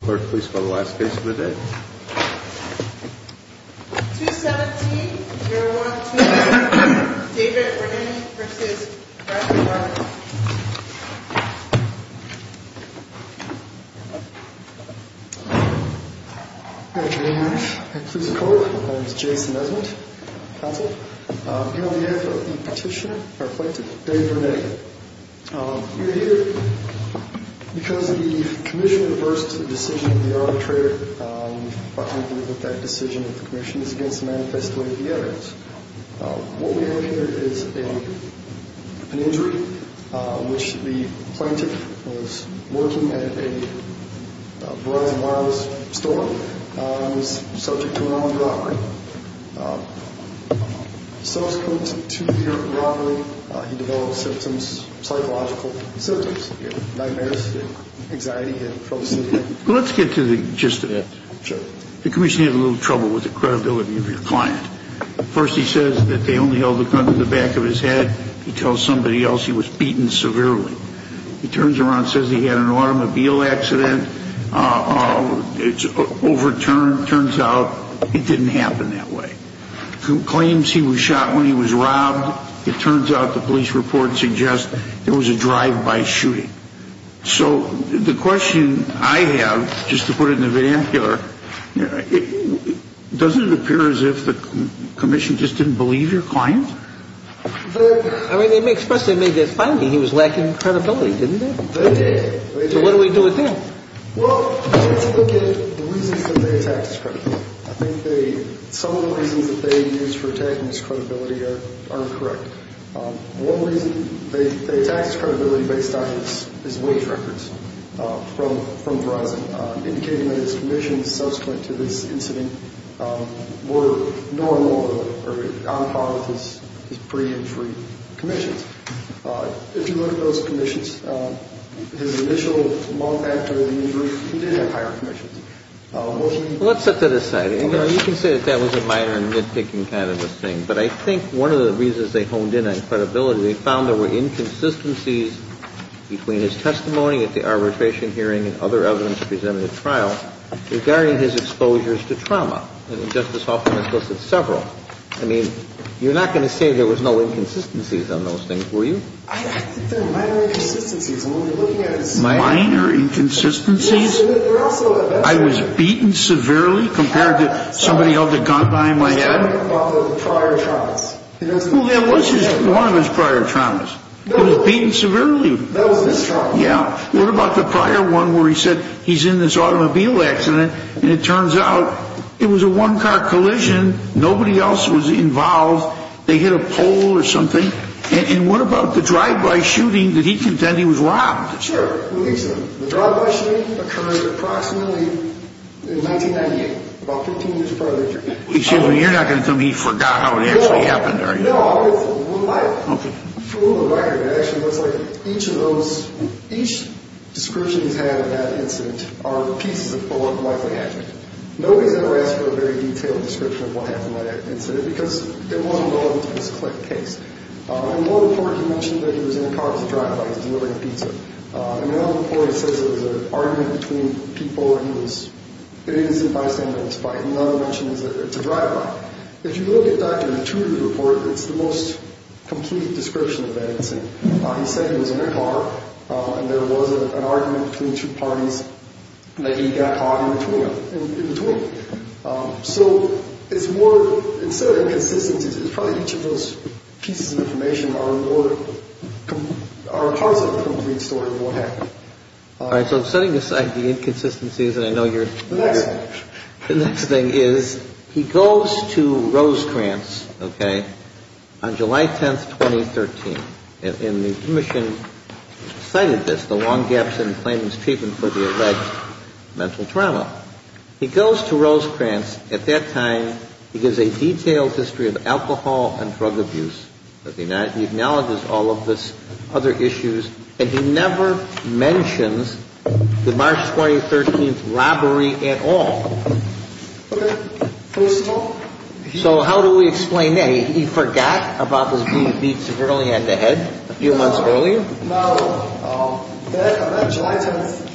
Clerk, please fill the last case of the day. 217-012, David Vernetti v. Bradley Barnett. Good afternoon. My name is Jason Nesment, counsel. I'm here on behalf of the petitioner, or plaintiff, David Vernetti. We're here because the commission reversed the decision of the arbitrator. We're quite happy with that decision of the commission. It's against the manifesto of the evidence. What we have here is an injury in which the plaintiff was working at a Verizon Wireless store. He was subject to an armed robbery. He was subject to a two-year robbery. He developed symptoms, psychological symptoms, nightmares, anxiety, and trouble sleeping. Let's get to the gist of it. Sure. The commission had a little trouble with the credibility of your client. First, he says that they only held a gun to the back of his head. He tells somebody else he was beaten severely. He turns around and says he had an automobile accident. It's overturned. Turns out it didn't happen that way. Claims he was shot when he was robbed. It turns out the police report suggests there was a drive-by shooting. So the question I have, just to put it in the vernacular, doesn't it appear as if the commission just didn't believe your client? I mean, they expressed they made that finding. He was lacking credibility, didn't they? They did. So what do we do with him? Well, let's look at the reasons that they attacked his credibility. I think some of the reasons that they used for attacking his credibility are incorrect. One reason they attacked his credibility based on his wage records from Verizon, indicating that his commissions subsequent to this incident were normal or on par with his pre-injury commissions. Let's set that aside. You can say that that was a minor and nitpicking kind of a thing. But I think one of the reasons they honed in on credibility, they found there were inconsistencies between his testimony at the arbitration hearing and other evidence presented at trial regarding his exposures to trauma. And Justice Hoffman has listed several. I mean, you're not going to say there was no inconsistencies on those things. You're not going to say there was no inconsistencies. I think there are minor inconsistencies. Minor inconsistencies? I was beaten severely compared to somebody held a gun behind my head? Well, that was one of his prior traumas. He was beaten severely. That was his trauma. Yeah. What about the prior one where he said he's in this automobile accident and it turns out it was a one-car collision, nobody else was involved, they hit a pole or something? And what about the drive-by shooting? Did he contend he was robbed? Sure, with each of them. The drive-by shooting occurred approximately in 1998, about 15 years prior to that. Excuse me, you're not going to tell me he forgot how it actually happened, are you? No, I'll get to it. We'll buy it. Okay. For all the record, it actually looks like each description he's had of that incident are pieces of bullet-like magic. Nobody's ever asked for a very detailed description of what happened in that incident because it wasn't relevant to this case. In one report, he mentioned that he was in a car with a drive-by. He was delivering pizza. In another report, he says it was an argument between people. He was an innocent bystander in spite. In another, he mentions that it's a drive-by. If you look at Dr. Matuta's report, it's the most complete description of that incident. He said he was in a car and there was an argument between two parties that he got caught in between them, in between. So it's more, instead of inconsistencies, it's probably each of those pieces of information are parts of the complete story of what happened. All right. So setting aside the inconsistencies, and I know you're... The next thing. The next thing is he goes to Rosecrans, okay, on July 10, 2013. And the commission cited this, the long gaps in Clayton's treatment for the alleged mental trauma. He goes to Rosecrans. At that time, he gives a detailed history of alcohol and drug abuse. He acknowledges all of the other issues, and he never mentions the March 2013 robbery at all. Okay. First of all... So how do we explain that? He forgot about this being beat severely on the head a few months earlier? No. On that July 10th,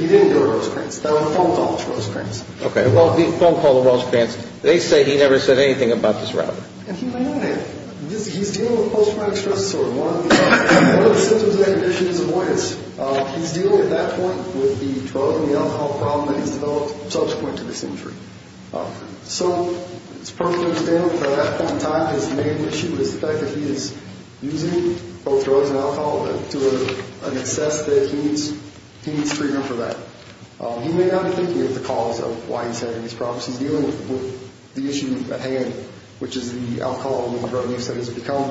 he didn't go to Rosecrans. That was a phone call to Rosecrans. Okay. Well, the phone call to Rosecrans, they say he never said anything about this robbery. And he may not have. He's dealing with post-traumatic stress disorder. One of the symptoms of that condition is avoidance. He's dealing at that point with the drug and the alcohol problem that he's developed subsequent to this injury. So it's perfectly understandable that at that point in time, his main issue is the fact that he is using both drugs and alcohol to an excess that he needs treatment for that. He may not be thinking of the cause of why he's having these problems. He's dealing with the issue at hand, which is the alcohol and drug use that has become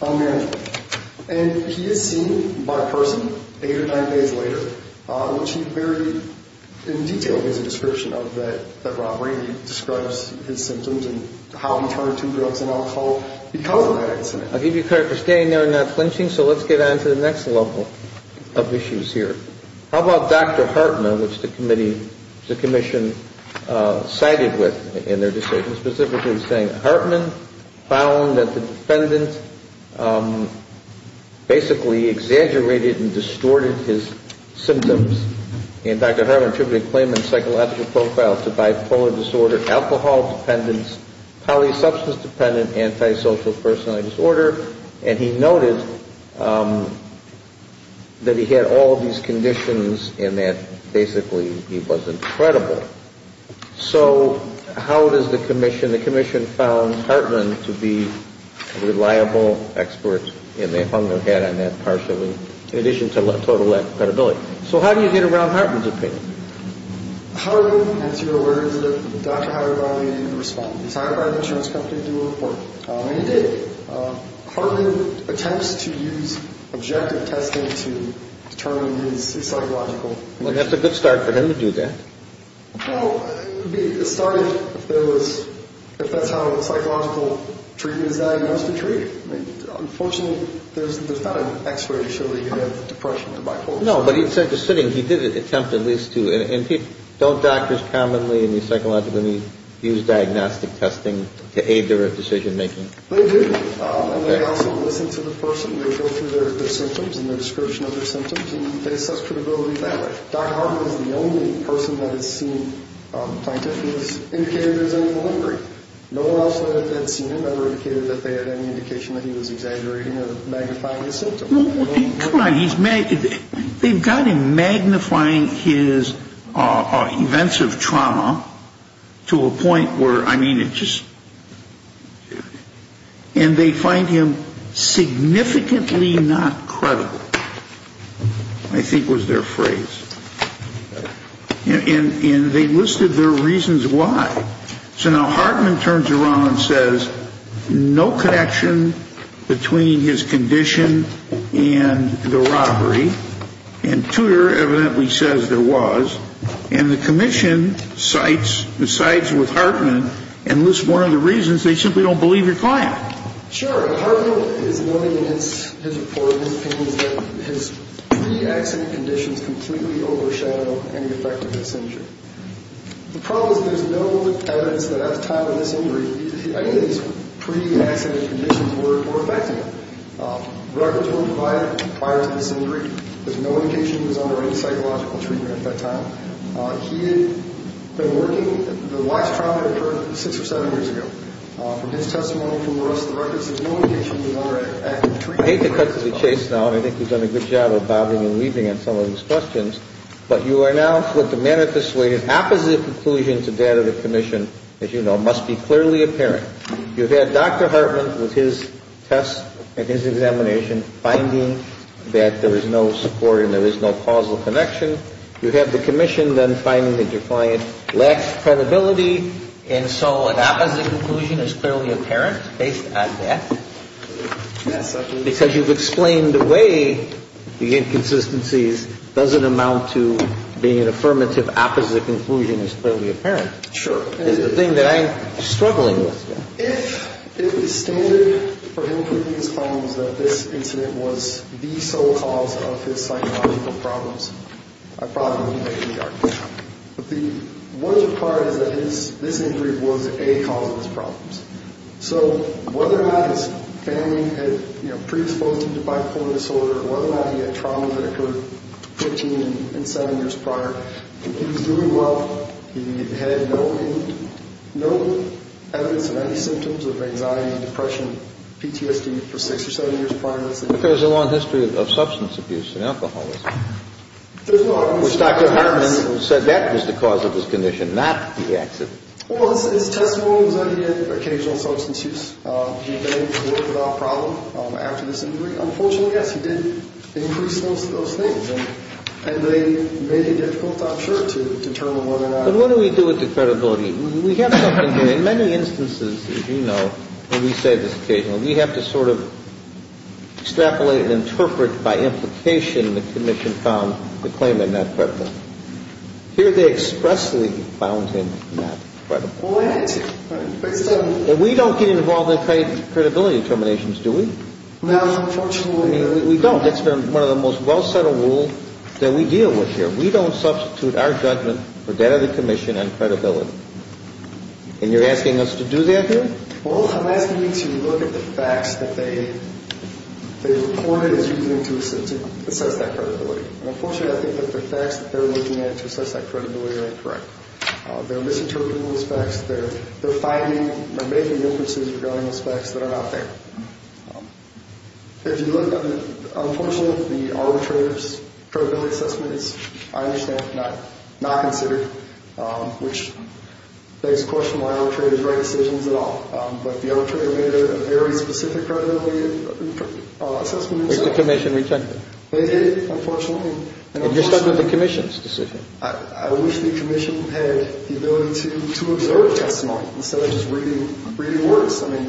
unbearable. And he is seen by a person eight or nine days later, which he very in detail gives a description of that robbery, describes his symptoms and how he turned to drugs and alcohol because of that incident. I'll give you credit for staying there and not flinching. So let's get on to the next level of issues here. How about Dr. Hartman, which the commission cited with in their decision, Hartman found that the defendant basically exaggerated and distorted his symptoms. And Dr. Hartman attributed the claimant's psychological profile to bipolar disorder, alcohol dependence, polysubstance dependent, antisocial personality disorder. And he noted that he had all of these conditions and that basically he was incredible. So how does the commission, the commission found Hartman to be a reliable expert and they hung their hat on that partially in addition to total lack of credibility. So how do you get around Hartman's opinion? Hartman, as you're aware, is a doctor hired by the insurance company to do a report. And he did. Hartman attempts to use objective testing to determine his psychological condition. Well, that's a good start for him to do that. Well, it started if that's how psychological treatment is diagnosed and treated. Unfortunately, there's not an expert to show that you have depression or bipolar disorder. No, but he did attempt at least to. And don't doctors commonly in the psychological community use diagnostic testing to aid their decision making? They do. And they also listen to the person. They go through their symptoms and their description of their symptoms and they assess credibility that way. Dr. Hartman is the only person that has seen a scientist who has indicated there's an epilepsy. No one else that had seen him ever indicated that they had any indication that he was exaggerating or magnifying his symptoms. Come on, he's magnified. They've got him magnifying his events of trauma to a point where, I mean, it just. And they find him significantly not credible, I think was their phrase. And they listed their reasons why. So now Hartman turns around and says no connection between his condition and the robbery. And Tudor evidently says there was. And the commission decides with Hartman and lists one of the reasons. They simply don't believe your client. Sure. Hartman is noting in his report, in his opinion, that his pre-accident conditions completely overshadow any effect of his injury. The problem is there's no evidence that at the time of this injury his pre-accident conditions were affecting him. Records were provided prior to this injury. There's no indication he was under any psychological treatment at that time. He had been working. The last trauma occurred six or seven years ago. From his testimony, from the rest of the records, there's no indication he was under active treatment. I hate to cut to the chase now, and I think you've done a good job of bobbing and weaving on some of these questions. But you are now with the manifested opposite conclusion to that of the commission, as you know, must be clearly apparent. You have Dr. Hartman with his test and his examination finding that there is no support and there is no causal connection. You have the commission then finding that your client lacks credibility. And so an opposite conclusion is clearly apparent based on that? Yes. Because you've explained the way the inconsistencies doesn't amount to being an affirmative opposite conclusion is clearly apparent. Sure. It's the thing that I'm struggling with. If it was standard for him to think his problems, that this incident was the sole cause of his psychological problems, I probably wouldn't make any arguments. But the wonderful part is that this injury was a cause of his problems. So whether or not his family had, you know, predisposed him to bipolar disorder, whether or not he had trauma that occurred 15 and 7 years prior, he was doing well. He had no evidence of any symptoms of anxiety, depression, PTSD for 6 or 7 years prior to this. But there's a long history of substance abuse and alcoholism. Which Dr. Hartman said that was the cause of his condition, not the accident. Well, his testimony was that he had occasional substance use. He was able to work without a problem after this injury. Unfortunately, yes, he did increase those things. And they made it difficult, I'm sure, to determine whether or not. But what do we do with the credibility? We have something here. In many instances, as you know, and we say this occasionally, we have to sort of extrapolate and interpret by implication the commission found the claimant not credible. Here they expressly found him not credible. Well, they had to. But we don't get involved in credibility determinations, do we? No, unfortunately. We don't. It's been one of the most well-settled rules that we deal with here. We don't substitute our judgment for that of the commission on credibility. And you're asking us to do that here? Well, I'm asking you to look at the facts that they reported as using to assess that credibility. And unfortunately, I think that the facts that they're looking at to assess that credibility are incorrect. They're misinterpreting those facts. They're finding or making inferences regarding those facts that are not there. If you look at it, unfortunately, the arbitrator's credibility assessment is, I understand, not considered, which begs the question why arbitrators write decisions at all. But the arbitrator made a very specific credibility assessment. Did the commission reject it? They did, unfortunately. And you're stuck with the commission's decision. I wish the commission had the ability to observe testimony instead of just reading words. I mean,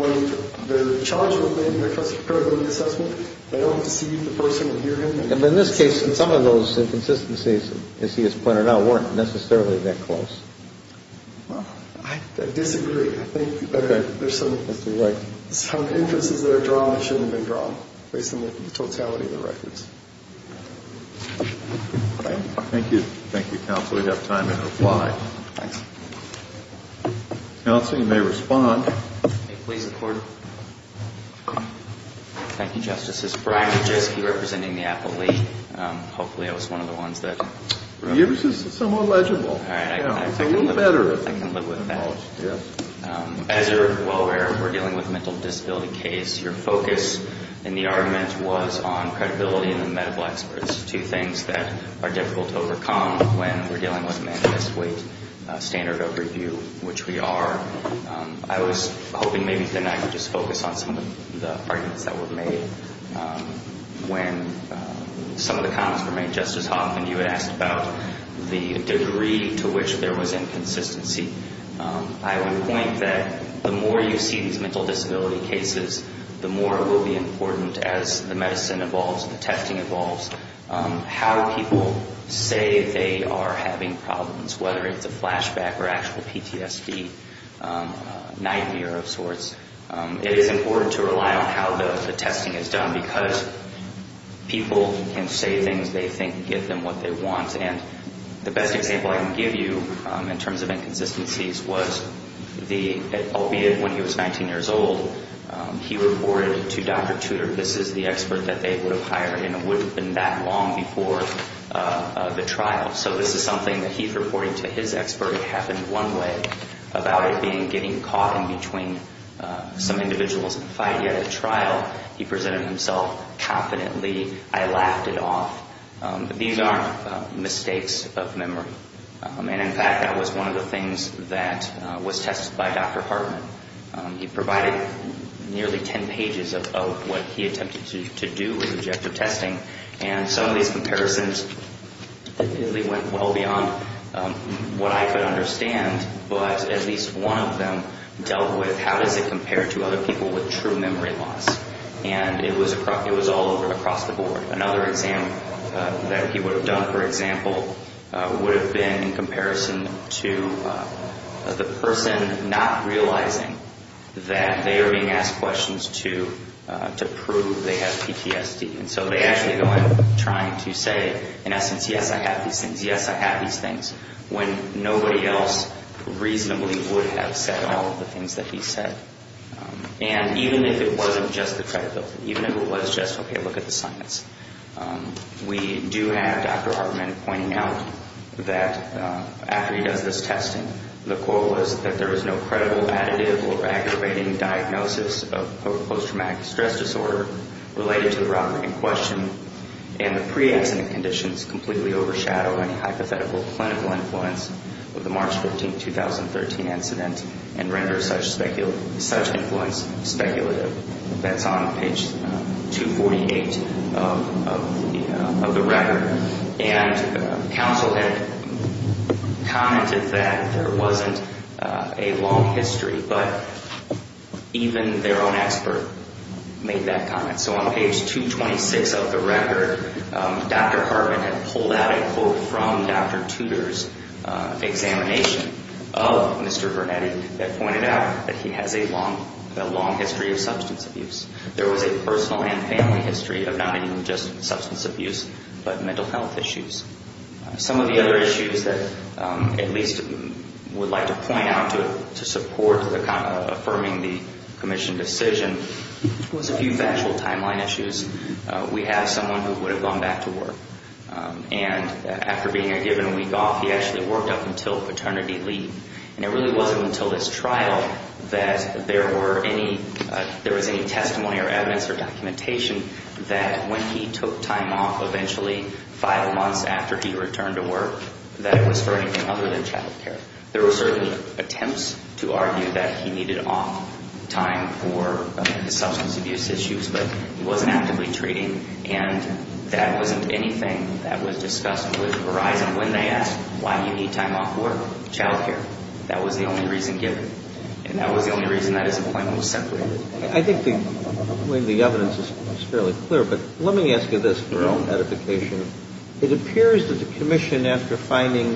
when the charge was made in the credibility assessment, they don't perceive the person or hear him. And in this case, some of those inconsistencies, as he has pointed out, weren't necessarily that close. Well, I disagree. I think there's some inferences that are drawn that shouldn't have been drawn, based on the totality of the records. Thank you. Thank you, counsel. We have time to reply. Thanks. Counsel, you may respond. May it please the Court? Thank you, Justices. Brian Kujewski, representing the appellee. Hopefully I was one of the ones that- Yours is somewhat legible. All right. It's a little better. I can live with that. As you're aware, we're dealing with a mental disability case. Your focus in the argument was on credibility and the medical experts, two things that are difficult to overcome when we're dealing with a manifest weight standard of review, which we are. I was hoping maybe tonight we could just focus on some of the arguments that were made. When some of the comments were made, Justice Hoffman, you had asked about the degree to which there was inconsistency. I would point that the more you see these mental disability cases, the more it will be important, as the medicine evolves and the testing evolves, how people say they are having problems, whether it's a flashback or actual PTSD, nightmare of sorts. It is important to rely on how the testing is done because people can say things they think give them what they want. And the best example I can give you in terms of inconsistencies was the- This is the expert that they would have hired, and it wouldn't have been that long before the trial. So this is something that he's reporting to his expert. It happened one way about it being getting caught in between some individuals. If I had yet a trial, he presented himself confidently. I laughed it off. These aren't mistakes of memory. And, in fact, that was one of the things that was tested by Dr. Hartman. He provided nearly 10 pages of what he attempted to do with objective testing, and some of these comparisons really went well beyond what I could understand, but at least one of them dealt with how does it compare to other people with true memory loss. And it was all over across the board. Another example that he would have done, for example, would have been in comparison to the person not realizing that they are being asked questions to prove they have PTSD. And so they actually go in trying to say, in essence, yes, I have these things, yes, I have these things, when nobody else reasonably would have said all of the things that he said. And even if it wasn't just the credibility, even if it was just, okay, look at the science, we do have Dr. Hartman pointing out that after he does this testing, the quote was that there was no credible additive or aggravating diagnosis of post-traumatic stress disorder related to the problem in question, and the pre-accident conditions completely overshadow any hypothetical clinical influence of the March 15, 2013 incident and render such influence speculative. That's on page 248 of the record. And counsel had commented that there wasn't a long history, but even their own expert made that comment. So on page 226 of the record, Dr. Hartman had pulled out a quote from Dr. Tudor's examination of Mr. Bernetti that pointed out that he has a long history of substance abuse. There was a personal and family history of not even just substance abuse, but mental health issues. Some of the other issues that at least would like to point out to support affirming the commission decision was a few factual timeline issues. We have someone who would have gone back to work. And after being a given week off, he actually worked up until paternity leave. And it really wasn't until this trial that there was any testimony or evidence or documentation that when he took time off eventually five months after he returned to work, that it was for anything other than child care. There were certain attempts to argue that he needed off time for the substance abuse issues, but he wasn't actively treating. And that wasn't anything that was discussed with Verizon when they asked, why do you need time off work? Child care. That was the only reason given. And that was the only reason that his appointment was separated. I think the evidence is fairly clear, but let me ask you this for identification. It appears that the commission, after finding,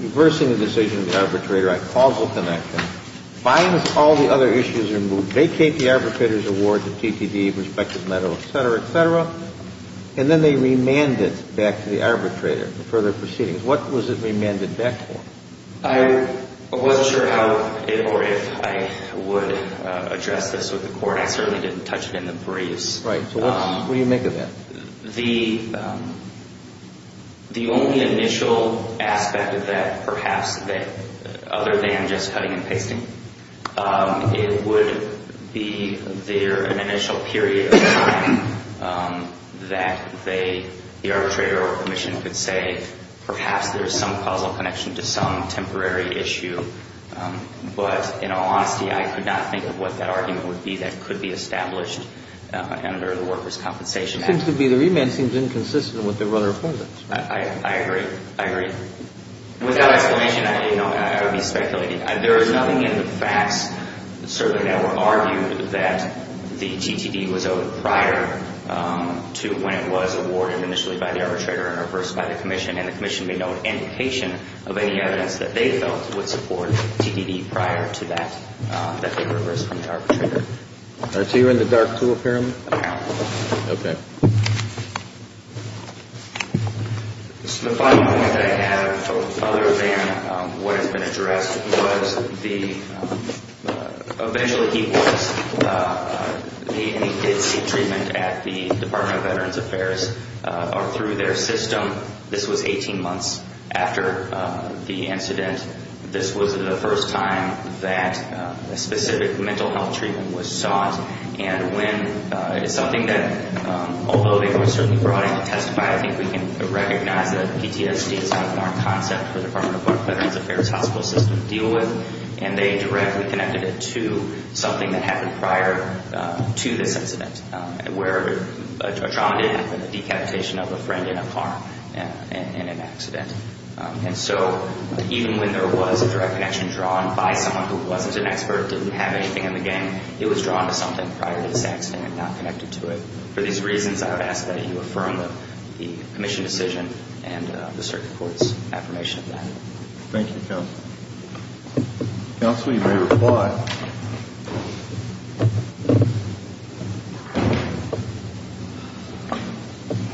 reversing the decision of the arbitrator on causal connection, finds all the other issues removed. They take the arbitrator's award to TPD, prospective medal, et cetera, et cetera, and then they remand it back to the arbitrator for further proceedings. What was it remanded back for? I wasn't sure how or if I would address this with the court. I certainly didn't touch it in the briefs. Right. So what do you make of that? The only initial aspect of that, perhaps, other than just cutting and pasting, it would be there an initial period of time that the arbitrator or commission could say, perhaps there's some causal connection to some temporary issue. But in all honesty, I could not think of what that argument would be that could be established under the workers' compensation act. It seems to me the remand seems inconsistent with what they were under before that. I agree. I agree. Without explanation, I would be speculating. There is nothing in the facts, certainly, that would argue that the TPD was owed prior to when it was awarded initially by the arbitrator and reversed by the commission. And the commission may know an indication of any evidence that they felt would support TPD prior to that, that they reversed from the arbitrator. Are two in the dark two apparently? No. Okay. The final point that I have, other than what has been addressed, was the eventually he was, he did seek treatment at the Department of Veterans Affairs or through their system. This was 18 months after the incident. This was the first time that a specific mental health treatment was sought. And when something that, although they were certainly brought in to testify, I think we can recognize that PTSD is not a concept for the Department of Veterans Affairs hospital system to deal with. And they directly connected it to something that happened prior to this incident, where a trauma didn't happen, a decapitation of a friend in a car in an accident. And so even when there was a direct connection drawn by someone who wasn't an expert, didn't have anything in the game, it was drawn to something prior to this accident and not connected to it. For these reasons, I would ask that you affirm the commission decision and the circuit court's affirmation of that. Thank you, counsel. Counsel, you may reply.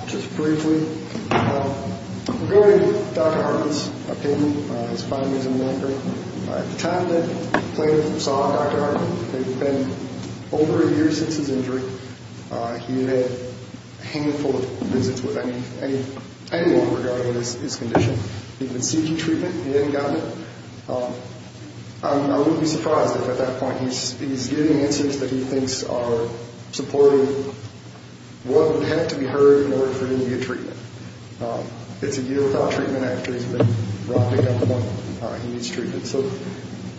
Just briefly, regarding Dr. Hartley's opinion, his findings and memory, at the time that the plaintiff saw Dr. Hartley, it had been over a year since his injury. He had had a handful of visits with anyone regarding his condition. He had been seeking treatment, he hadn't gotten it. I wouldn't be surprised if at that point he's getting answers that he thinks are supporting what would have to be heard in order for him to get treatment. It's a year without treatment after he's been robbed at gunpoint. He needs treatment. So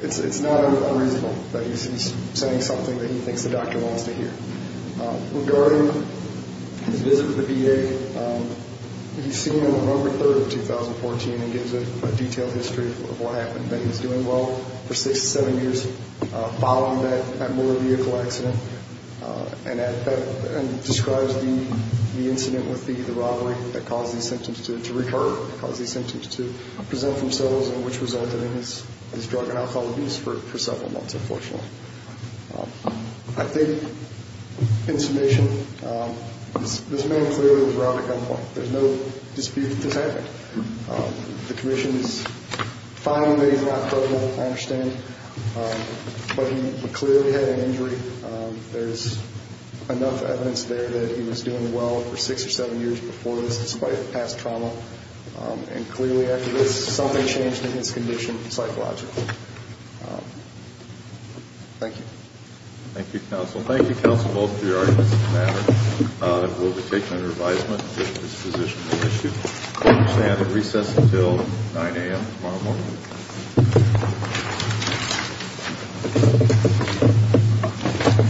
it's not unreasonable that he's saying something that he thinks the doctor wants to hear. Regarding his visit with the VA, he's seen on November 3rd of 2014 and gives a detailed history of what happened, that he's doing well for six to seven years following that motor vehicle accident and describes the incident with the robbery that caused these symptoms to recur, that caused these symptoms to present themselves and which resulted in his drug and alcohol abuse for several months, unfortunately. I think, in summation, this man clearly was robbed at gunpoint. There's no dispute that this happened. The commission is fine in that he's not drugged, I understand, but he clearly had an injury. There's enough evidence there that he was doing well for six or seven years before this, despite past trauma, and clearly after this, something changed in his condition psychologically. Thank you. Thank you, counsel. Thank you, counsel, both for your arguments. It will be taken under advisement that this position be issued. We will stand at recess until 9 a.m. tomorrow morning.